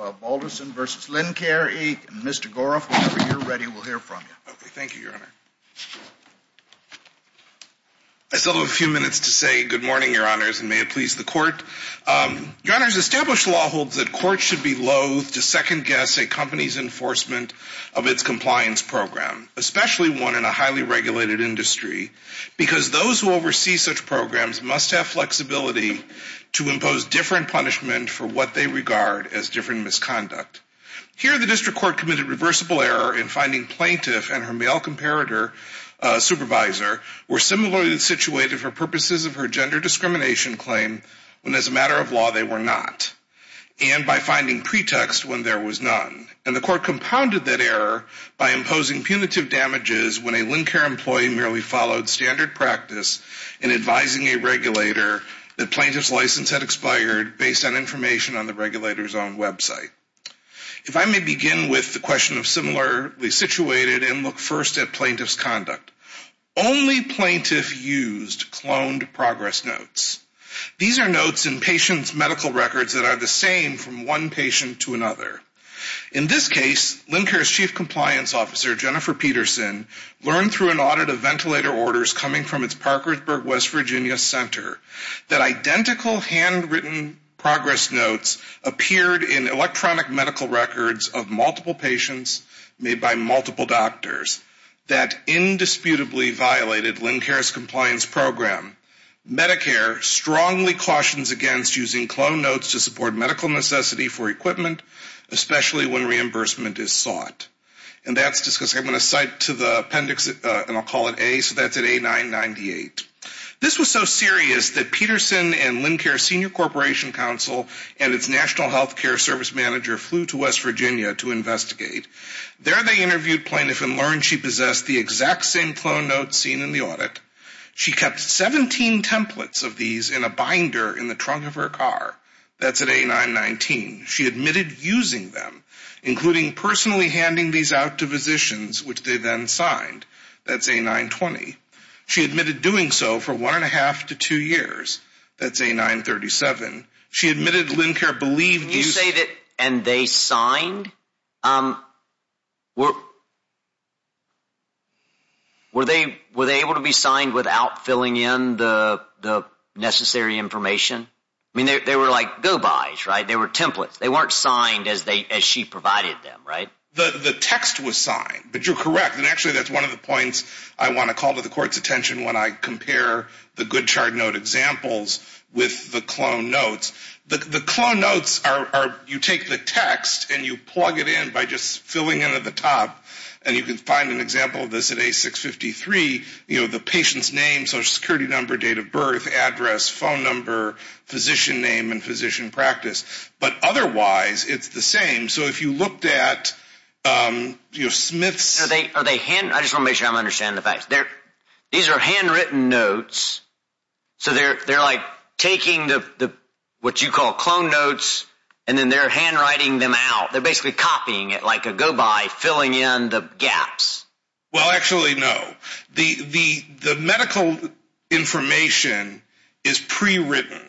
And Mr. Goroff, whenever you're ready, we'll hear from you. Okay. Thank you, Your Honor. I still have a few minutes to say good morning, Your Honors, and may it please the Court. Your Honors, established law holds that courts should be loathe to second-guess a company's enforcement of its compliance program, especially one in a highly-regulated industry, because those who oversee such programs must have flexibility to impose different punishment Thank you, Your Honor. Thank you, Your Honor. Thank you, Your Honor. Thank you, Your Honor. Here, the District Court committed reversible error in finding plaintiff and her male comparator supervisor were similarly situated for purposes of her gender discrimination claim when, as a matter of law, they were not, and by finding pretext when there was none. And the Court compounded that error by imposing punitive damages when a Lincare employee merely followed standard practice in advising a regulator that plaintiff's license had expired based on information on the regulator's own website. If I may begin with the question of similarly situated and look first at plaintiff's conduct. Only plaintiff used cloned progress notes. These are notes in patient's medical records that are the same from one patient to another. In this case, Lincare's Chief Compliance Officer, Jennifer Peterson, learned through an audit of ventilator orders coming from its Parkersburg, West Virginia center that identical handwritten progress notes appeared in electronic medical records of multiple patients made by multiple doctors that indisputably violated Lincare's compliance program. Medicare strongly cautions against using cloned notes to support medical necessity for equipment, especially when reimbursement is sought. And that's just because I'm going to cite to the appendix, and I'll call it A, so that's at A998. This was so serious that Peterson and Lincare Senior Corporation Council and its National Healthcare Service Manager flew to West Virginia to investigate. There they interviewed plaintiff and learned she possessed the exact same cloned notes seen in the audit. She kept 17 templates of these in a binder in the trunk of her car. That's at A919. She admitted using them, including personally handing these out to physicians, which they then signed. That's A920. She admitted doing so for one-and-a-half to two years. That's A937. She admitted Lincare believed using... Can you say that, and they signed? Were they able to be signed without filling in the necessary information? They were like go-bys, right? They were templates. They weren't signed as she provided them, right? The text was signed, but you're correct, and actually, that's one of the points I want to call to the court's attention when I compare the good chart note examples with the cloned notes. The cloned notes, you take the text and you plug it in by just filling in at the top, and you can find an example of this at A653, the patient's name, social security number, date of birth, address, phone number, physician name, and physician practice, but otherwise, it's the same. If you looked at Smith's... Are they hand... I just want to make sure I'm understanding the facts. These are handwritten notes, so they're taking what you call cloned notes, and then they're handwriting them out. They're basically copying it like a go-by, filling in the gaps. Well, actually, no. The medical information is pre-written,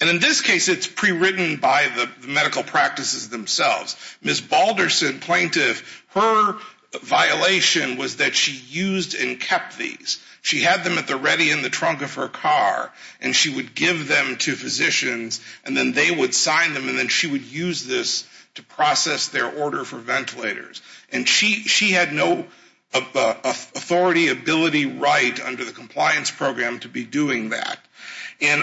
and in this case, it's pre-written by the medical practices themselves. Ms. Balderson, plaintiff, her violation was that she used and kept these. She had them at the ready in the trunk of her car, and she would give them to physicians, and then they would sign them, and then she would use this to process their order for ventilators. She had no authority, ability, right under the compliance program to be doing that.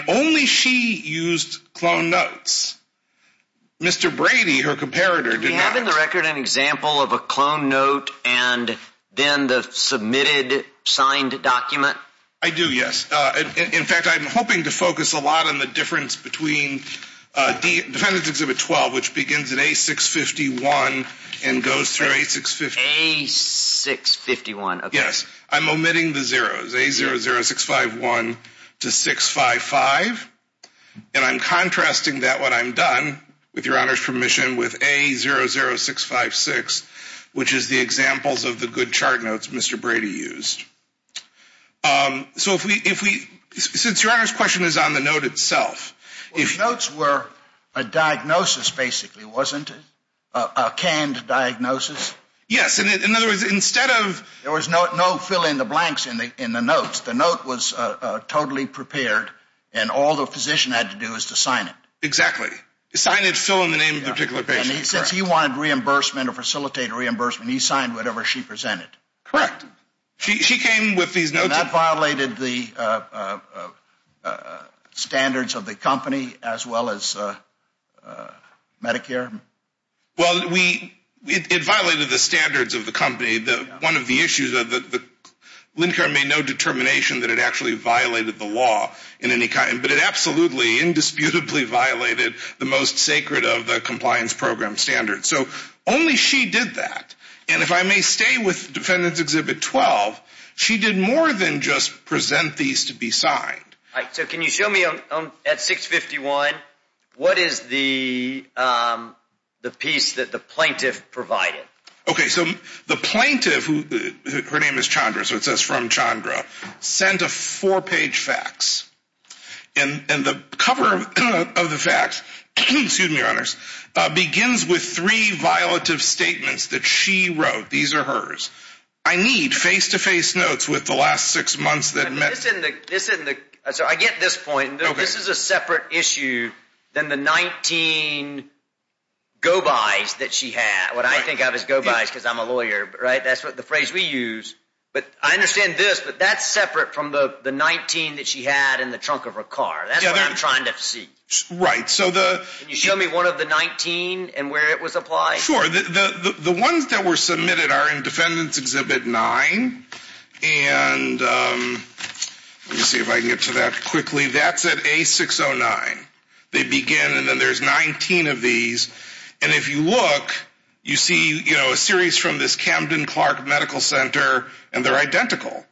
Only she used cloned notes. Mr. Brady, her comparator, did not. Do you have in the record an example of a cloned note and then the submitted signed document? I do, yes. In fact, I'm hoping to focus a lot on the difference between Defendant's Exhibit 12, which begins at A651 and goes through A650. A651, okay. Yes. I'm omitting the zeros. A00651 to 655. And I'm contrasting that when I'm done, with Your Honor's permission, with A00656, which is the examples of the good chart notes Mr. Brady used. So if we, since Your Honor's question is on the note itself. Notes were a diagnosis, basically, wasn't it? A canned diagnosis? Yes. In other words, instead of- There was no fill in the blanks in the notes. The note was totally prepared and all the physician had to do was to sign it. Exactly. Sign it, fill in the name of the particular patient. And since he wanted reimbursement or facilitate reimbursement, he signed whatever she presented. Correct. She came with these notes- And that violated the standards of the company, as well as Medicare? Well, it violated the standards of the company. One of the issues, Medicare made no determination that it actually violated the law in any kind, but it absolutely, indisputably violated the most sacred of the compliance program standards. So only she did that. And if I may stay with Defendant's Exhibit 12, she did more than just present these to be signed. All right, so can you show me at 651, what is the piece that the plaintiff provided? Okay, so the plaintiff, who her name is Chandra, so it says from Chandra, sent a four-page fax and the cover of the fax, excuse me, Your Honors, begins with three violative statements that she wrote. These are hers. I need face-to-face notes with the last six months that met- This isn't the- I'm sorry, I get this point, but this is a separate issue than the 19 go-bys that she had. What I think of as go-bys, because I'm a lawyer, right? That's the phrase we use. But I understand this, but that's separate from the 19 that she had in the trunk of her car. That's what I'm trying to see. Right, so the- Can you show me one of the 19 and where it was applied? Sure. The ones that were submitted are in Defendant's Exhibit 9, and let me see if I can get to that quickly. That's at A609. They begin, and then there's 19 of these, and if you look, you see a series from this Camden-Clark Medical Center, and they're identical.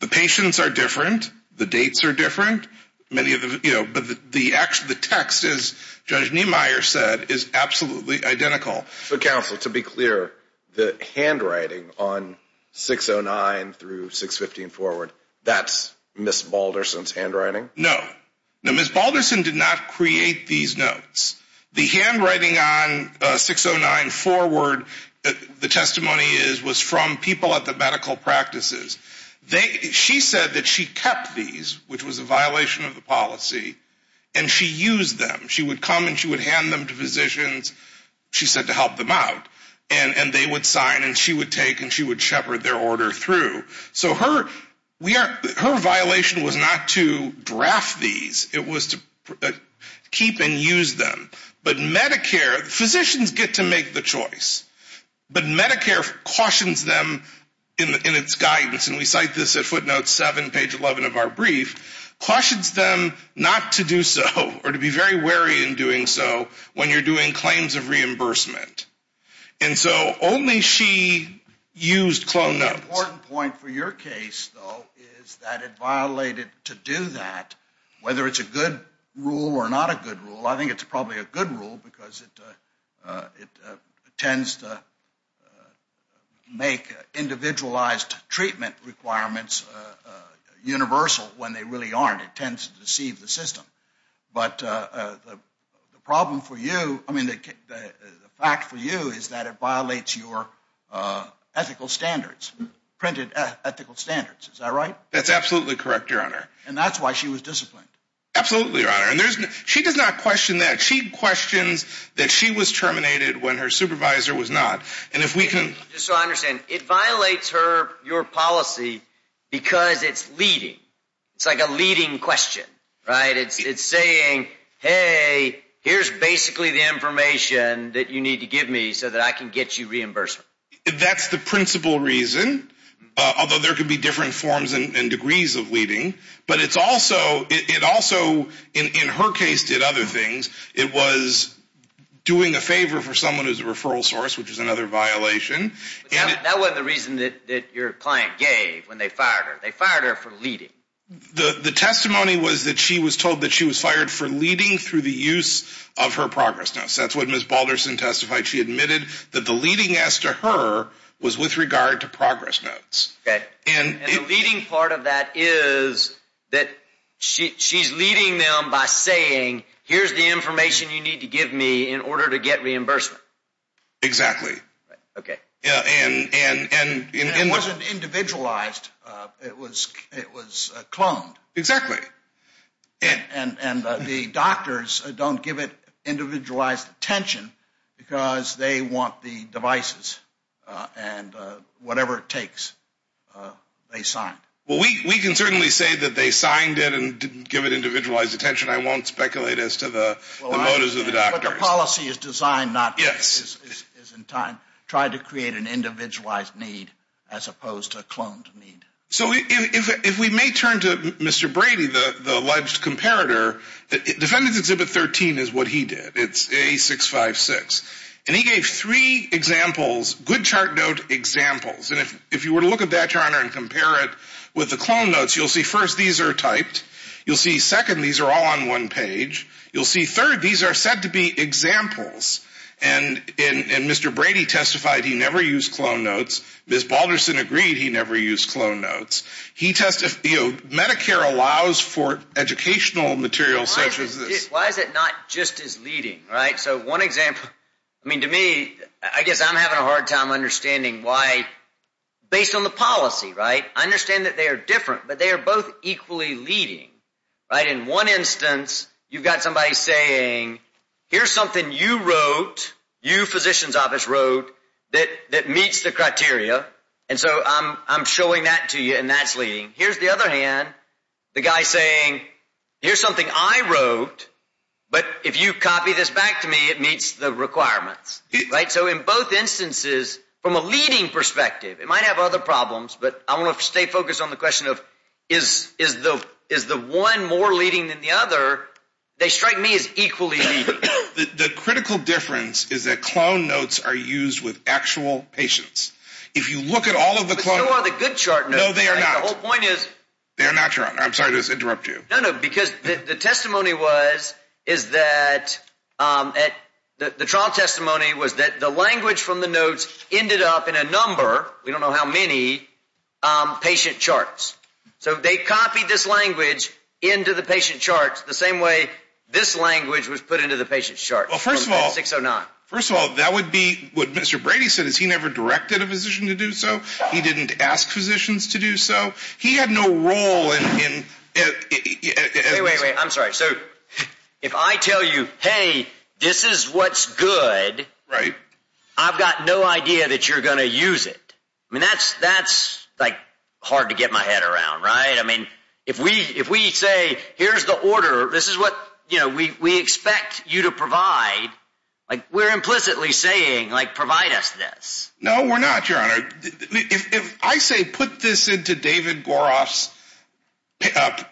The patients are different. The dates are different. Many of them- But the text, as Judge Niemeyer said, is absolutely identical. So, counsel, to be clear, the handwriting on 609 through 615 forward, that's Ms. Balderson's handwriting? No. No, Ms. Balderson did not create these notes. The handwriting on 609 forward, the testimony is, was from people at the medical practices. She said that she kept these, which was a violation of the policy, and she used them. She would come, and she would hand them to physicians, she said, to help them out, and they would sign, and she would take, and she would shepherd their order through. So her, we are, her violation was not to draft these, it was to keep and use them. But Medicare, physicians get to make the choice. But Medicare cautions them in its guidance, and we cite this at footnote 7, page 11 of our brief, cautions them not to do so, or to be very wary in doing so, when you're doing claims of reimbursement. And so only she used cloned notes. The important point for your case, though, is that it violated, to do that, whether it's a good rule or not a good rule, I think it's probably a good rule, because it, it tends to make individualized treatment requirements universal, when they really aren't. It tends to deceive the system. But the problem for you, I mean, the fact for you is that it violates your ethical standards. Printed ethical standards. Is that right? That's absolutely correct, your honor. And that's why she was disciplined. Absolutely, your honor. And there's, she does not question that. She questions that she was terminated when her supervisor was not. And if we can. So I understand. It violates her, your policy, because it's leading. It's like a leading question, right? It's saying, hey, here's basically the information that you need to give me so that I can get you reimbursement. That's the principal reason, although there could be different forms and degrees of leading. But it's also, it also, in her case, did other things. It was doing a favor for someone who's a referral source, which is another violation. And that wasn't the reason that your client gave when they fired her. They fired her for leading. The testimony was that she was told that she was fired for leading through the use of her progress notes. That's what Ms. Balderson testified. She admitted that the leading as to her was with regard to progress notes. Okay. And the leading part of that is that she's leading them by saying, here's the information you need to give me in order to get reimbursement. Exactly. Okay. And it wasn't individualized. It was, it was cloned. Exactly. And the doctors don't give it individualized attention because they want the devices and whatever it takes, they signed. Well, we can certainly say that they signed it and didn't give it individualized attention. I won't speculate as to the motives of the doctors. But the policy is designed not, is in time, tried to create an individualized need as opposed to a cloned need. So if we may turn to Mr. Brady, the alleged comparator, Defendant's Exhibit 13 is what he did. It's A656. And he gave three examples, good chart note examples. And if you were to look at that chart and compare it with the clone notes, you'll see first these are typed. You'll see second, these are all on one page. You'll see third, these are said to be examples. And Mr. Brady testified he never used clone notes. Ms. Balderson agreed he never used clone notes. He testified, you know, Medicare allows for educational materials such as this. Why is it not just as leading, right? So one example, I mean, to me, I guess I'm having a hard time understanding why based on the policy, right, I understand that they are different, but they are both equally leading, right? In one instance, you've got somebody saying, here's something you wrote, you, physician's criteria, and so I'm showing that to you and that's leading. Here's the other hand, the guy saying, here's something I wrote, but if you copy this back to me, it meets the requirements, right? So in both instances, from a leading perspective, it might have other problems, but I want to stay focused on the question of is the one more leading than the other, they strike me as equally leading. The critical difference is that clone notes are used with actual patients. If you look at all of the clone notes. But still are the good chart notes. No, they are not. I think the whole point is. They are not. I'm sorry to interrupt you. No, no, because the testimony was, is that, the trial testimony was that the language from the notes ended up in a number, we don't know how many, patient charts. So they copied this language into the patient charts the same way this language was put into the patient chart. Well, first of all. 609. First of all, that would be, what Mr. Brady said, is he never directed a physician to do so. He didn't ask physicians to do so. He had no role in. Wait, wait, wait, I'm sorry. So if I tell you, hey, this is what's good, I've got no idea that you're going to use it. I mean, that's, that's like hard to get my head around, right? I mean, if we, if we say, here's the order, this is what, you know, we, we expect you to provide. Like, we're implicitly saying like, provide us this. No, we're not, your honor. If I say, put this into David Goroff's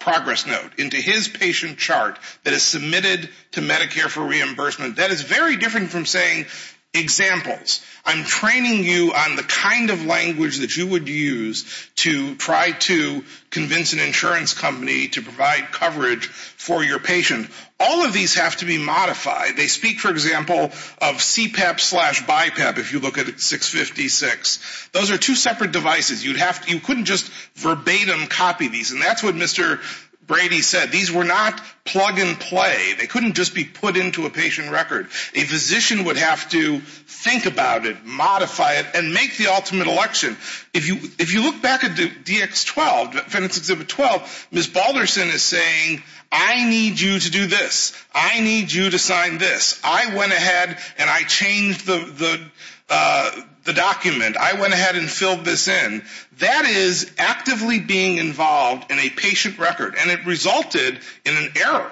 progress note, into his patient chart that is submitted to Medicare for reimbursement, that is very different from saying, examples, I'm training you on the kind of language that you would use to try to convince an insurance company to provide coverage for your patient. All of these have to be modified. They speak, for example, of CPAP slash BiPAP, if you look at 656. Those are two separate devices. You'd have to, you couldn't just verbatim copy these, and that's what Mr. Brady said. These were not plug and play. They couldn't just be put into a patient record. A physician would have to think about it, modify it, and make the ultimate election. If you, if you look back at the DX12, Fenton's Exhibit 12, Ms. Balderson is saying, I need you to do this. I need you to sign this. I went ahead and I changed the, the, the document. I went ahead and filled this in. That is actively being involved in a patient record, and it resulted in an error.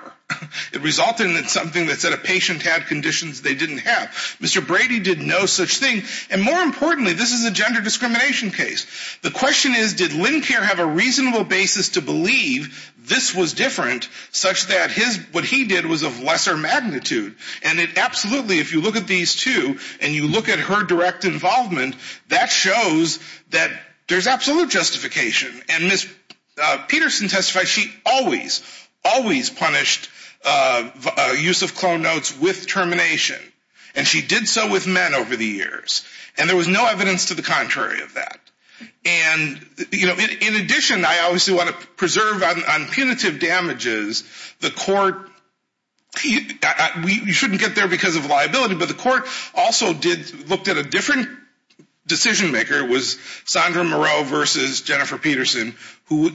It resulted in something that said a patient had conditions they didn't have. Mr. Brady did no such thing, and more importantly, this is a gender discrimination case. The question is, did Lincare have a reasonable basis to believe this was different, such that his, what he did was of lesser magnitude? And it absolutely, if you look at these two, and you look at her direct involvement, that shows that there's absolute justification. And Ms. Peterson testified she always, always punished use of clone notes with termination. And she did so with men over the years. And there was no evidence to the contrary of that. And you know, in addition, I obviously want to preserve on, on punitive damages. The court, you shouldn't get there because of liability, but the court also did, looked at a different decision maker, it was Sandra Moreau versus Jennifer Peterson, who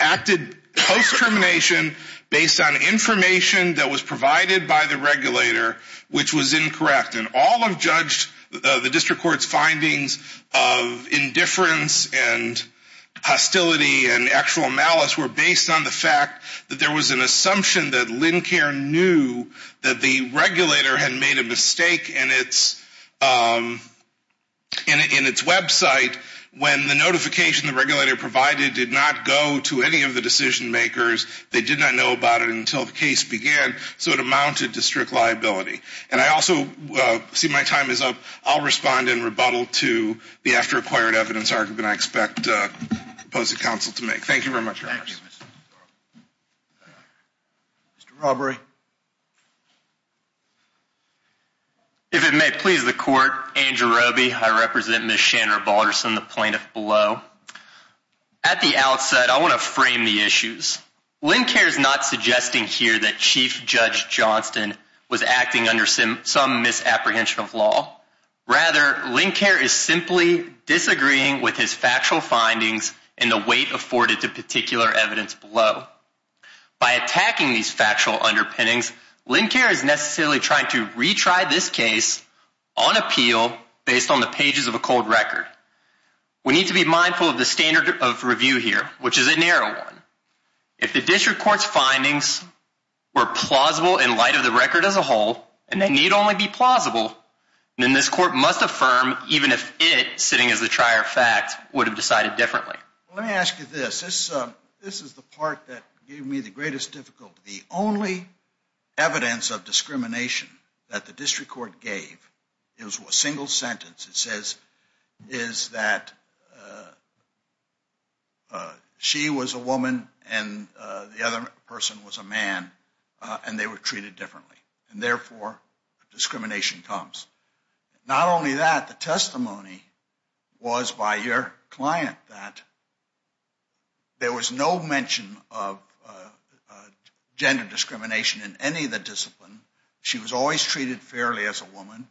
acted post-termination based on information that was provided by the regulator, which was incorrect. And all of judge, the district court's findings of indifference and hostility and actual malice were based on the fact that there was an assumption that Lincare knew that the regulator had made a mistake in its, in its website when the notification the regulator provided did not go to any of the decision makers, they did not know about it until the case began, so it amounted to strict liability. And I also see my time is up. I'll respond in rebuttal to the after-acquired evidence argument I expect the opposing counsel to make. Thank you very much. Thank you. Mr. Robbery. If it may please the court, Andrew Robby, I represent Ms. Chandra Balderson, the plaintiff below. At the outset, I want to frame the issues. Lincare's not suggesting here that Chief Judge Johnston was acting under some, some misapprehension of law. Rather, Lincare is simply disagreeing with his factual findings and the weight afforded to particular evidence below. By attacking these factual underpinnings, Lincare is necessarily trying to retry this case on appeal based on the pages of a cold record. We need to be mindful of the standard of review here, which is a narrow one. If the district court's findings were plausible in light of the record as a whole, and they need only be plausible, then this court must affirm even if it, sitting as the trier of fact, would have decided differently. Let me ask you this. This is the part that gave me the greatest difficulty. The only evidence of discrimination that the district court gave, it was a single sentence, it says, is that she was a woman and the other person was a man, and they were treated differently. And therefore, discrimination comes. Not only that, the testimony was by your client that there was no mention of gender discrimination in any of the discipline. She was always treated fairly as a woman.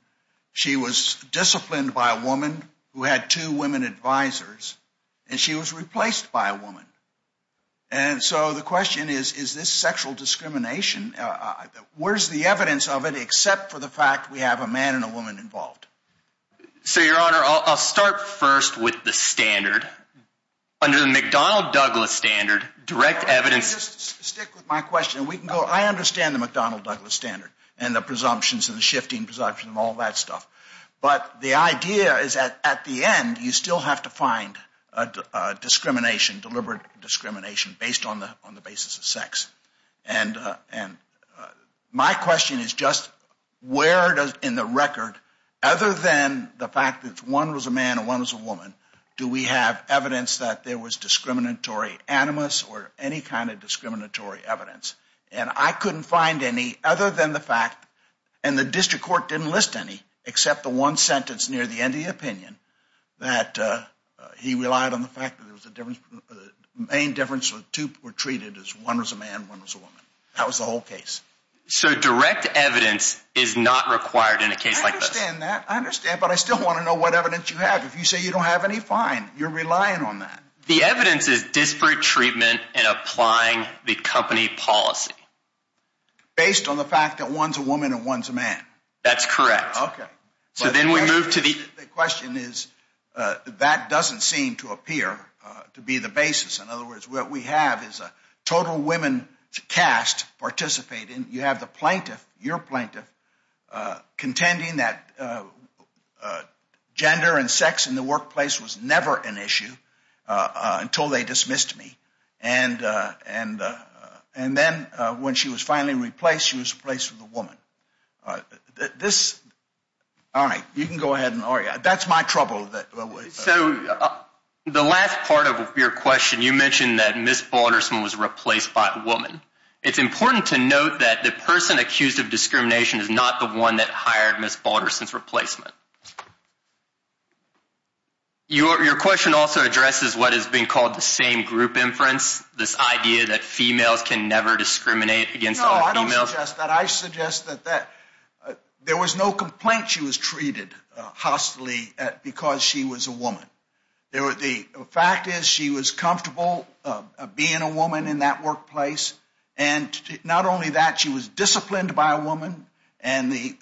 She was disciplined by a woman who had two women advisors, and she was replaced by a woman. And so the question is, is this sexual discrimination? Where's the evidence of it, except for the fact we have a man and a woman involved? So your honor, I'll start first with the standard. Under the McDonnell-Douglas standard, direct evidence... Just stick with my question. I understand the McDonnell-Douglas standard and the presumptions and the shifting presumption and all that stuff. But the idea is that at the end, you still have to find discrimination, deliberate discrimination based on the basis of sex. And my question is just, where in the record, other than the fact that one was a man and one was a woman, do we have evidence that there was discriminatory animus or any kind of discriminatory evidence? And I couldn't find any other than the fact, and the district court didn't list any, except the one sentence near the end of the opinion, that he relied on the fact that the main difference was two were treated as one was a man and one was a woman. That was the whole case. So direct evidence is not required in a case like this? I understand that, I understand, but I still want to know what evidence you have. If you say you don't have any, fine, you're relying on that. The evidence is disparate treatment and applying the company policy. Based on the fact that one's a woman and one's a man? That's correct. Okay. So then we move to the... The question is, that doesn't seem to appear to be the basis. In other words, what we have is a total women cast participating. You have the plaintiff, your plaintiff, contending that gender and sex in the workplace was never an issue until they dismissed me. And then when she was finally replaced, she was replaced with a woman. This... All right, you can go ahead and argue. That's my trouble. So the last part of your question, you mentioned that Ms. Balderson was replaced by a woman. It's important to note that the person accused of discrimination is not the one that hired Ms. Balderson's replacement. Your question also addresses what has been called the same group inference, this idea that females can never discriminate against other females. No, I don't suggest that. I suggest that there was no complaint she was treated hostilely because she was a woman. The fact is she was comfortable being a woman in that workplace. And not only that, she was disciplined by a woman. And the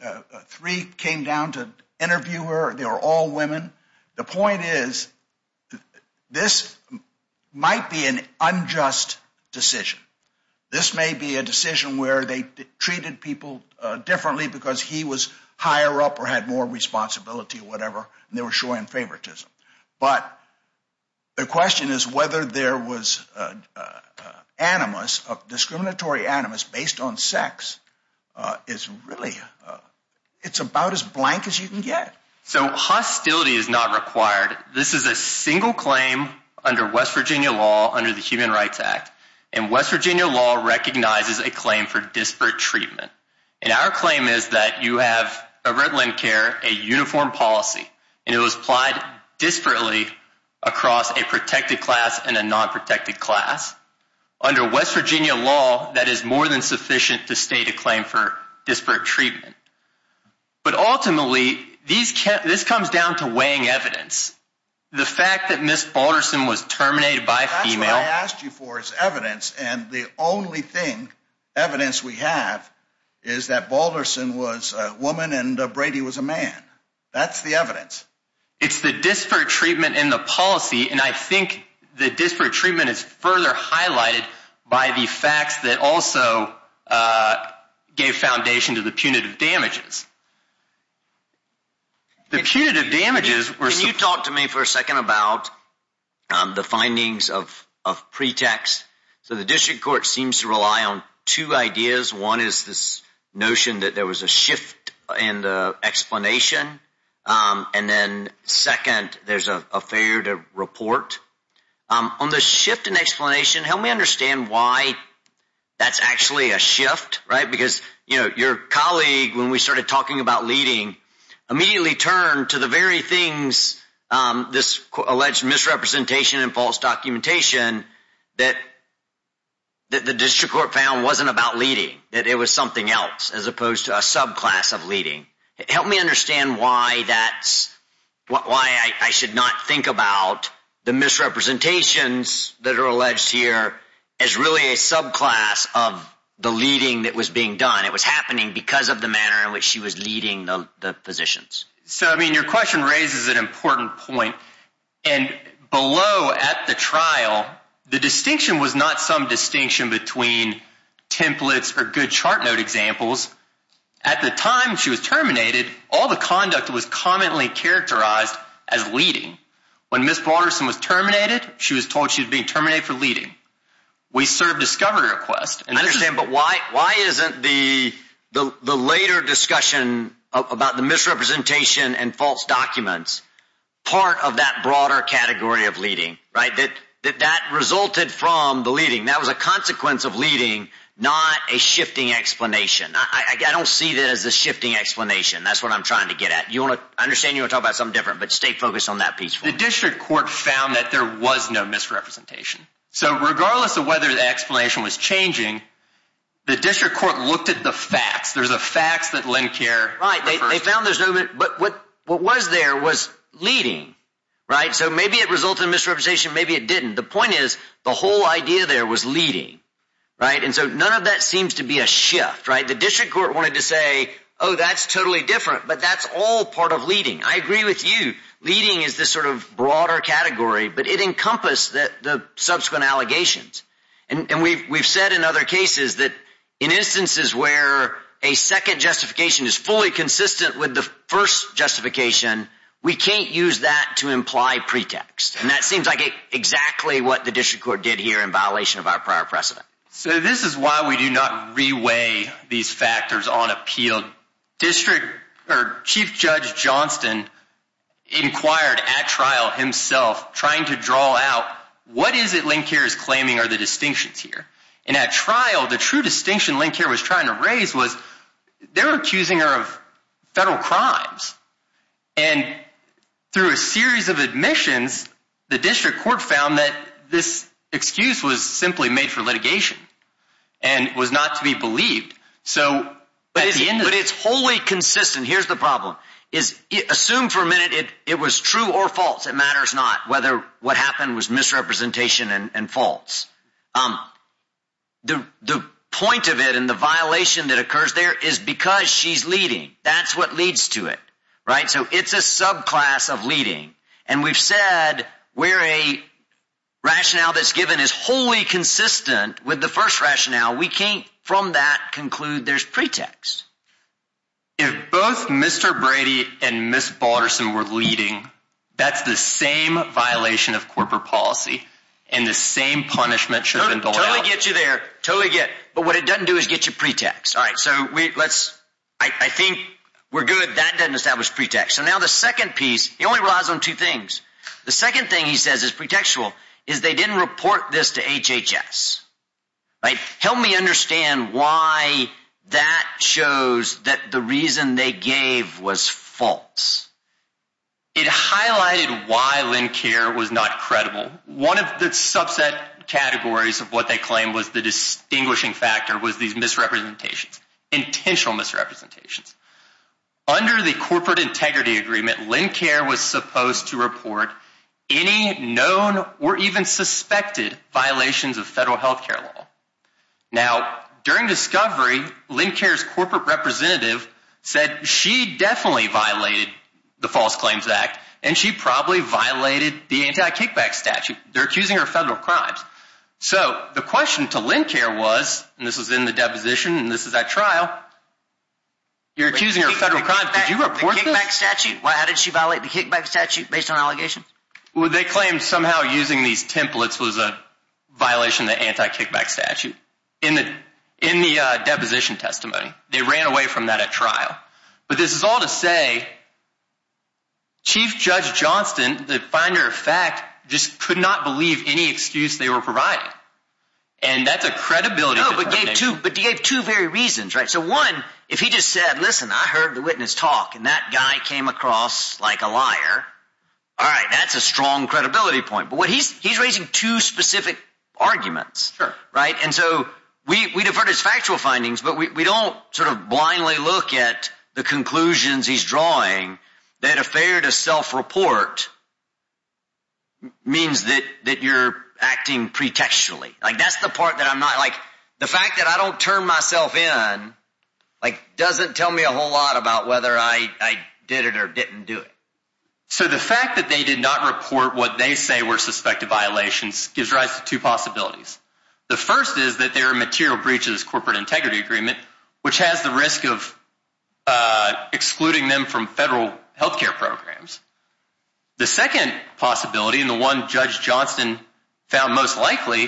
three came down to interview her. They were all women. The point is, this might be an unjust decision. This may be a decision where they treated people differently because he was higher up or had more responsibility or whatever, and they were showing favoritism. But the question is whether there was animus, discriminatory animus based on sex is really... It's about as blank as you can get. So hostility is not required. This is a single claim under West Virginia law, under the Human Rights Act. And West Virginia law recognizes a claim for disparate treatment. And our claim is that you have, over at LendCare, a uniform policy, and it was applied disparately across a protected class and a non-protected class. Under West Virginia law, that is more than sufficient to state a claim for disparate treatment. But ultimately, this comes down to weighing evidence. The fact that Ms. Balderson was terminated by a female... That's evidence, and the only evidence we have is that Balderson was a woman and Brady was a man. That's the evidence. It's the disparate treatment in the policy, and I think the disparate treatment is further highlighted by the facts that also gave foundation to the punitive damages. The punitive damages were... Can you talk to me for a second about the findings of pretext? So the district court seems to rely on two ideas. One is this notion that there was a shift in the explanation. And then second, there's a failure to report. On the shift in explanation, help me understand why that's actually a shift, right? Because your colleague, when we started talking about leading, immediately turned to the very things, this alleged misrepresentation and false documentation, that the district court found wasn't about leading, that it was something else as opposed to a subclass of leading. Help me understand why that's... Why I should not think about the misrepresentations that are alleged here as really a subclass of the leading that was being done. It was happening because of the manner in which she was leading the physicians. So, I mean, your question raises an important point. And below at the trial, the distinction was not some distinction between templates or good chart note examples. At the time she was terminated, all the conduct was commonly characterized as leading. When Ms. Broderson was terminated, she was told she was being terminated for leading. We served a discovery request. I understand, but why isn't the later discussion about the misrepresentation and false documents part of that broader category of leading, right? That that resulted from the leading. That was a consequence of leading, not a shifting explanation. I don't see that as a shifting explanation. That's what I'm trying to get at. I understand you want to talk about something different, but stay focused on that piece for me. The district court found that there was no misrepresentation. So regardless of whether the explanation was changing, the district court looked at the facts. There's a facts that Lynn Kerr... Right. They found there's no... But what was there was leading, right? So maybe it resulted in misrepresentation. Maybe it didn't. The point is the whole idea there was leading, right? And so none of that seems to be a shift, right? The district court wanted to say, oh, that's totally different, but that's all part of leading. I agree with you. Leading is this sort of broader category, but it encompassed the subsequent allegations. And we've said in other cases that in instances where a second justification is fully consistent with the first justification, we can't use that to imply pretext. And that seems like exactly what the district court did here in violation of our prior precedent. So this is why we do not reweigh these factors on appeal. Chief Judge Johnston inquired at trial himself trying to draw out what is it Lynn Kerr is claiming are the distinctions here. And at trial, the true distinction Lynn Kerr was trying to raise was they're accusing her of federal crimes. And through a series of admissions, the district court found that this excuse was simply made for litigation and was not to be believed. But it's wholly consistent. Here's the problem. Assume for a minute it was true or false. It matters not whether what happened was misrepresentation and false. The point of it and the violation that occurs there is because she's leading. That's what leads to it. Right. So it's a subclass of leading. And we've said we're a rationale that's given is wholly consistent with the first rationale. We can't from that conclude there's pretext. If both Mr. Brady and Miss Balderson were leading, that's the same violation of corporate policy and the same punishment should get you there. Totally get. But what it doesn't do is get your pretext. All right. So let's I think we're good. That doesn't establish pretext. So now the second piece, he only relies on two things. The second thing he says is pretextual is they didn't report this to HHS. Help me understand why that shows that the reason they gave was false. It highlighted why Lynn Kerr was not credible. One of the subset categories of what they claim was the distinguishing factor was these misrepresentations, intentional misrepresentations. Under the corporate integrity agreement, Lynn Kerr was supposed to report any known or even suspected violations of federal health care law. Now, during discovery, Lynn Kerr's corporate representative said she definitely violated the False Claims Act, and she probably violated the anti-kickback statute. They're accusing her of federal crimes. So the question to Lynn Kerr was, and this was in the deposition, and this is at trial, you're accusing her of federal crimes. Did you report this? The kickback statute? How did she violate the kickback statute based on allegations? Well, they claimed somehow using these templates was a violation of the anti-kickback statute in the deposition testimony. They ran away from that at trial. But this is all to say Chief Judge Johnston, the finder of fact, just could not believe any excuse they were providing, and that's a credibility determination. No, but he gave two very reasons, right? So one, if he just said, listen, I heard the witness talk, and that guy came across like a liar. All right, that's a strong credibility point, but he's raising two specific arguments, right? And so we defer to his factual findings, but we don't sort of blindly look at the conclusions he's drawing that a failure to self-report means that you're acting pretextually. Like, that's the part that I'm not – like, the fact that I don't turn myself in, like, doesn't tell me a whole lot about whether I did it or didn't do it. So the fact that they did not report what they say were suspected violations gives rise to two possibilities. The first is that there are material breaches of this corporate integrity agreement, which has the risk of excluding them from federal health care programs. The second possibility, and the one Judge Johnston found most likely,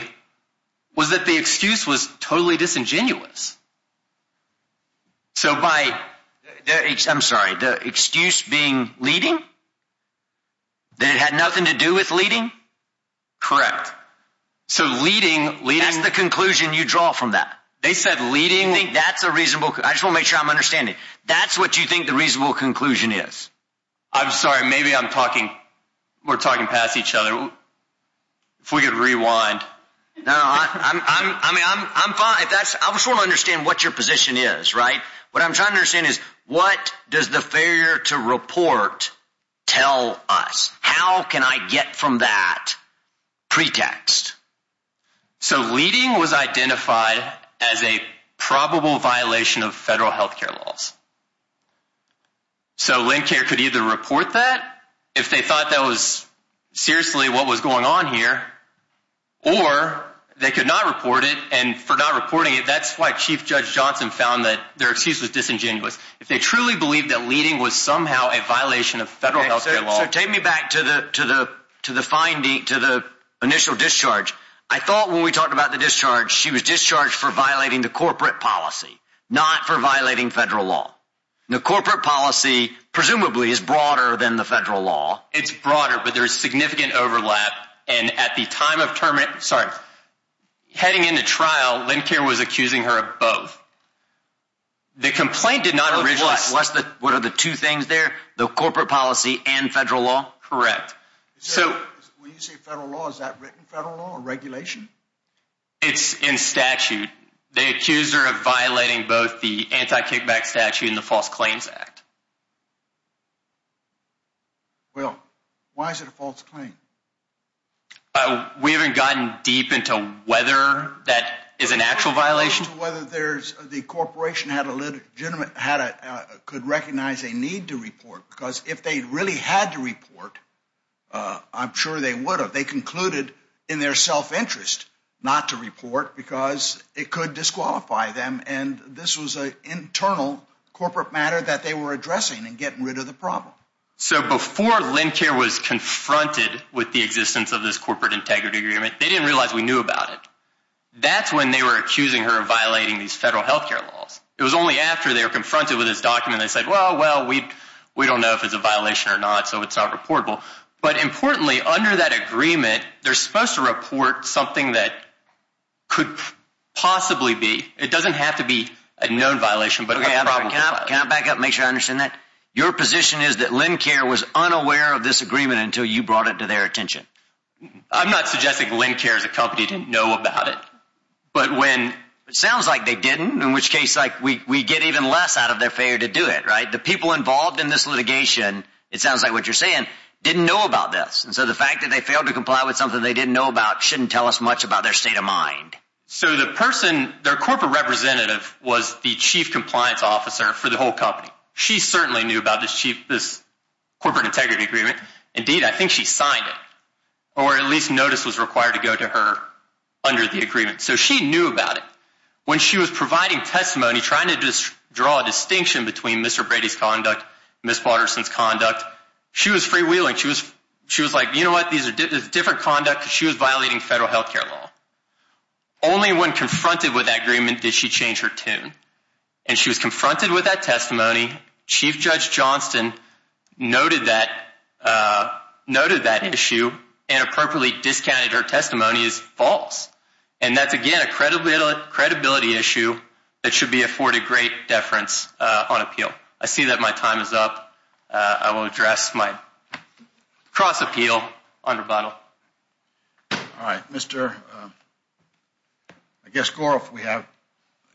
was that the excuse was totally disingenuous. So by – I'm sorry. The excuse being leading? That it had nothing to do with leading? Correct. So leading – That's the conclusion you draw from that. They said leading – I think that's a reasonable – I just want to make sure I'm understanding. That's what you think the reasonable conclusion is. I'm sorry. Maybe I'm talking – we're talking past each other. If we could rewind. No, I mean, I'm fine. I just want to understand what your position is, right? What I'm trying to understand is what does the failure to report tell us? How can I get from that pretext? So leading was identified as a probable violation of federal health care laws. So Lincare could either report that if they thought that was seriously what was going on here, or they could not report it. And for not reporting it, that's why Chief Judge Johnston found that their excuse was disingenuous. If they truly believed that leading was somehow a violation of federal health care laws – So take me back to the finding – to the initial discharge. I thought when we talked about the discharge, she was discharged for violating the corporate policy, not for violating federal law. The corporate policy presumably is broader than the federal law. It's broader, but there is significant overlap. And at the time of – sorry. Heading into trial, Lincare was accusing her of both. The complaint did not – What are the two things there? The corporate policy and federal law? Correct. When you say federal law, is that written federal law or regulation? It's in statute. They accused her of violating both the anti-kickback statute and the False Claims Act. Well, why is it a false claim? We haven't gotten deep into whether that is an actual violation. The corporation could recognize a need to report because if they really had to report, I'm sure they would have. They concluded in their self-interest not to report because it could disqualify them. And this was an internal corporate matter that they were addressing and getting rid of the problem. So before Lincare was confronted with the existence of this corporate integrity agreement, they didn't realize we knew about it. That's when they were accusing her of violating these federal health care laws. It was only after they were confronted with this document that they said, well, we don't know if it's a violation or not, so it's not reportable. But importantly, under that agreement, they're supposed to report something that could possibly be. It doesn't have to be a known violation, but a problem. Can I back up and make sure I understand that? Your position is that Lincare was unaware of this agreement until you brought it to their attention? I'm not suggesting Lincare as a company didn't know about it. It sounds like they didn't, in which case we get even less out of their failure to do it. The people involved in this litigation, it sounds like what you're saying, didn't know about this. And so the fact that they failed to comply with something they didn't know about shouldn't tell us much about their state of mind. So their corporate representative was the chief compliance officer for the whole company. She certainly knew about this corporate integrity agreement. Indeed, I think she signed it, or at least notice was required to go to her under the agreement. So she knew about it. When she was providing testimony trying to draw a distinction between Mr. Brady's conduct, Ms. Watterson's conduct, she was freewheeling. She was like, you know what, this is different conduct because she was violating federal health care law. Only when confronted with that agreement did she change her tune. And she was confronted with that testimony. Chief Judge Johnston noted that issue and appropriately discounted her testimony as false. And that's, again, a credibility issue that should be afforded great deference on appeal. I see that my time is up. I will address my cross-appeal on rebuttal. All right, Mr. I guess Goroff, we have,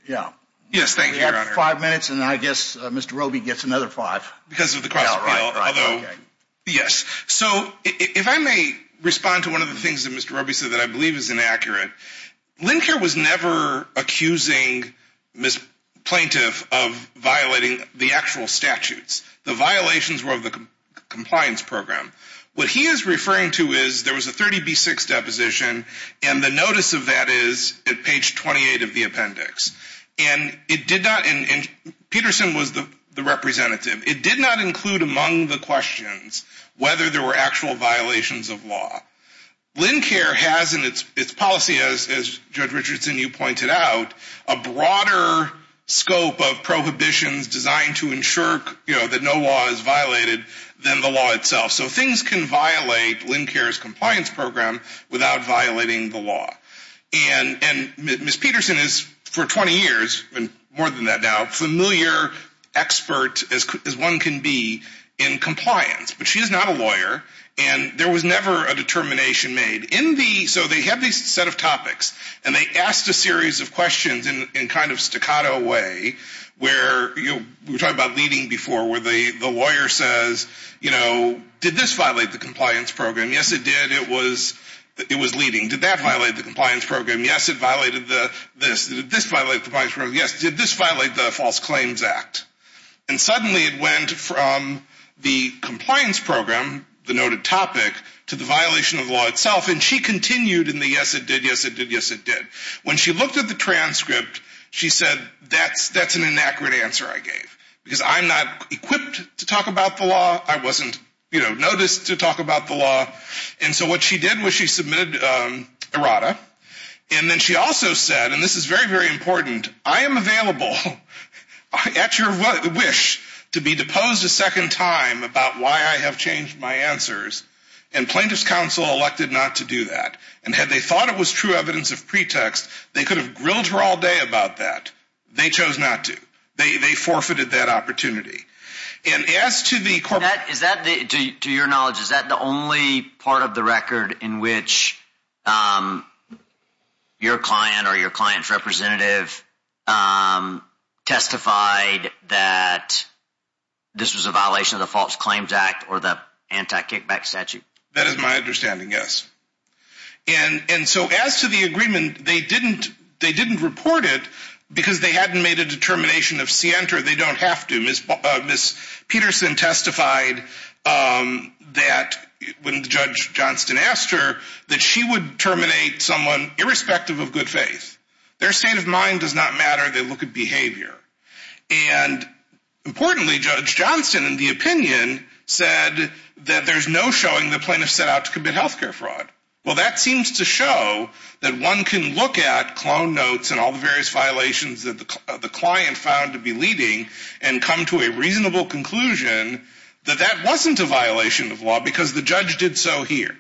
yeah. Yes, thank you, Your Honor. We have five minutes, and I guess Mr. Roby gets another five. Because of the cross-appeal, although, yes. So if I may respond to one of the things that Mr. Roby said that I believe is inaccurate. Linker was never accusing Ms. Plaintiff of violating the actual statutes. The violations were of the compliance program. What he is referring to is there was a 30B6 deposition, and the notice of that is at page 28 of the appendix. And it did not, and Peterson was the representative. It did not include among the questions whether there were actual violations of law. Linker has in its policy, as Judge Richardson, you pointed out, a broader scope of prohibitions designed to ensure, you know, that no law is violated than the law itself. So things can violate Linker's compliance program without violating the law. And Ms. Peterson is, for 20 years, more than that now, a familiar expert as one can be in compliance. But she is not a lawyer, and there was never a determination made. So they have these set of topics, and they asked a series of questions in kind of staccato way, where we were talking about leading before, where the lawyer says, you know, did this violate the compliance program? Yes, it did. It was leading. Did that violate the compliance program? Yes, it violated this. Did this violate the compliance program? Yes. Did this violate the False Claims Act? And suddenly it went from the compliance program, the noted topic, to the violation of the law itself. And she continued in the yes, it did, yes, it did, yes, it did. When she looked at the transcript, she said, that's an inaccurate answer I gave because I'm not equipped to talk about the law. I wasn't, you know, noticed to talk about the law. And so what she did was she submitted errata, and then she also said, and this is very, very important, I am available at your wish to be deposed a second time about why I have changed my answers. And plaintiff's counsel elected not to do that. And had they thought it was true evidence of pretext, they could have grilled her all day about that. They chose not to. They forfeited that opportunity. And as to the corporate – Is that, to your knowledge, is that the only part of the record in which your client or your client's representative testified that this was a violation of the False Claims Act or the anti-kickback statute? That is my understanding, yes. And so as to the agreement, they didn't report it because they hadn't made a determination of scienter. They don't have to. Ms. Peterson testified that when Judge Johnston asked her that she would terminate someone irrespective of good faith. Their state of mind does not matter. They look at behavior. And importantly, Judge Johnston, in the opinion, said that there's no showing the plaintiff set out to commit health care fraud. Well, that seems to show that one can look at clone notes and all the various violations that the client found to be leading and come to a reasonable conclusion that that wasn't a violation of law because the judge did so here.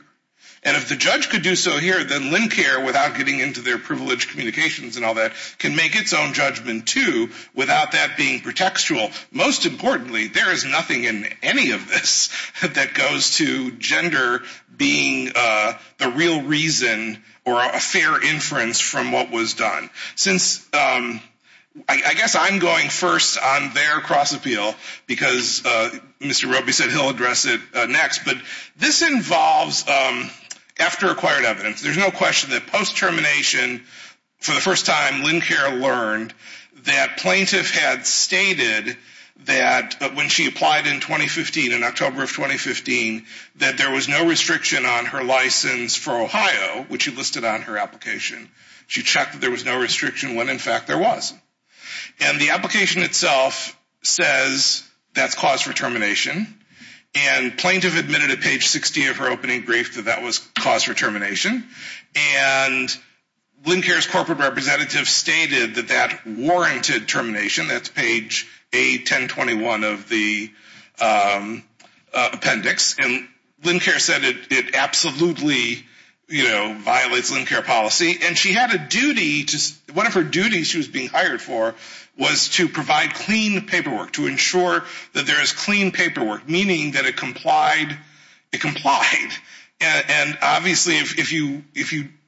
And if the judge could do so here, then LendCare, without getting into their privileged communications and all that, can make its own judgment too without that being pretextual. Most importantly, there is nothing in any of this that goes to gender being the real reason or a fair inference from what was done. Since I guess I'm going first on their cross appeal because Mr. Roby said he'll address it next, but this involves after acquired evidence. There's no question that post-termination, for the first time, LendCare learned that plaintiff had stated that when she applied in 2015, in October of 2015, that there was no restriction on her license for Ohio, which she listed on her application. She checked that there was no restriction when in fact there was. And the application itself says that's cause for termination. And plaintiff admitted at page 60 of her opening brief that that was cause for termination. And LendCare's corporate representative stated that that warranted termination. That's page A1021 of the appendix. And LendCare said it absolutely violates LendCare policy. And she had a duty – one of her duties she was being hired for was to provide clean paperwork, to ensure that there is clean paperwork, meaning that it complied. It complied. And obviously, if you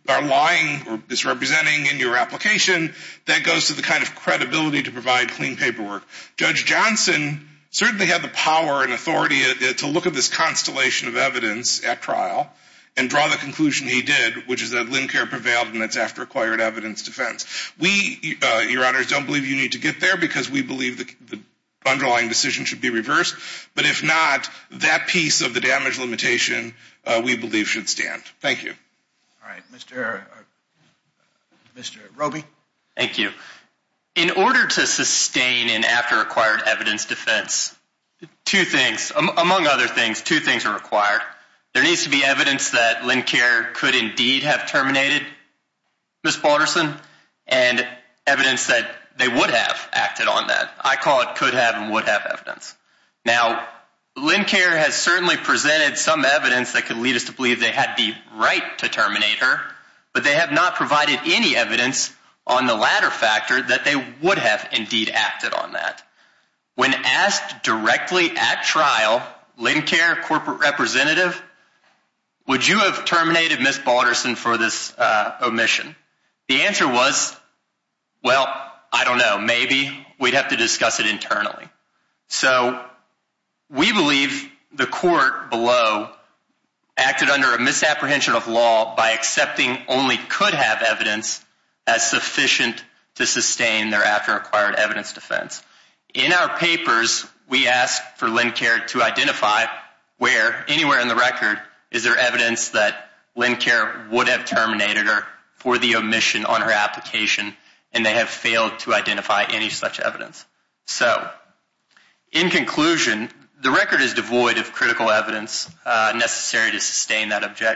are lying or misrepresenting in your application, that goes to the kind of credibility to provide clean paperwork. Judge Johnson certainly had the power and authority to look at this constellation of evidence at trial and draw the conclusion he did, which is that LendCare prevailed and it's after acquired evidence defense. We, Your Honors, don't believe you need to get there because we believe the underlying decision should be reversed. But if not, that piece of the damage limitation, we believe, should stand. Thank you. All right. Mr. Roby. Thank you. In order to sustain an after acquired evidence defense, two things – among other things, two things are required. There needs to be evidence that LendCare could indeed have terminated Ms. Balderson and evidence that they would have acted on that. I call it could have and would have evidence. Now, LendCare has certainly presented some evidence that could lead us to believe they had the right to terminate her, but they have not provided any evidence on the latter factor that they would have indeed acted on that. When asked directly at trial, LendCare corporate representative, would you have terminated Ms. Balderson for this omission? The answer was, well, I don't know, maybe. We'd have to discuss it internally. So we believe the court below acted under a misapprehension of law by accepting only could have evidence as sufficient to sustain their after acquired evidence defense. In our papers, we ask for LendCare to identify where, anywhere in the record, is there evidence that LendCare would have terminated her for the omission on her application, and they have failed to identify any such evidence. So, in conclusion, the record is devoid of critical evidence necessary to sustain that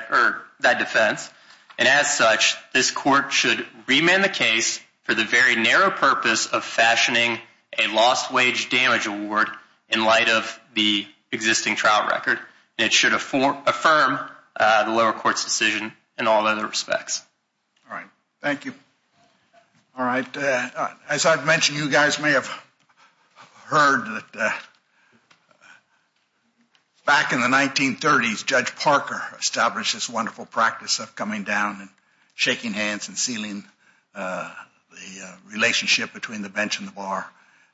defense. And as such, this court should remand the case for the very narrow purpose of fashioning a lost wage damage award in light of the existing trial record. It should affirm the lower court's decision in all other respects. All right. Thank you. All right. As I've mentioned, you guys may have heard that back in the 1930s, Judge Parker established this wonderful practice of coming down and shaking hands and sealing the relationship between the bench and the bar.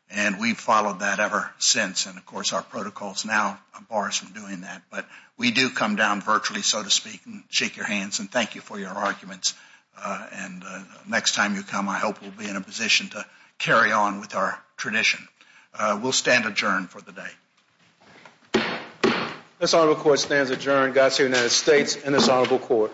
And we've followed that ever since. And, of course, our protocols now bar us from doing that. But we do come down virtually, so to speak, and shake your hands and thank you for your arguments. And next time you come, I hope we'll be in a position to carry on with our tradition. We'll stand adjourned for the day. This Honorable Court stands adjourned. God save the United States and this Honorable Court.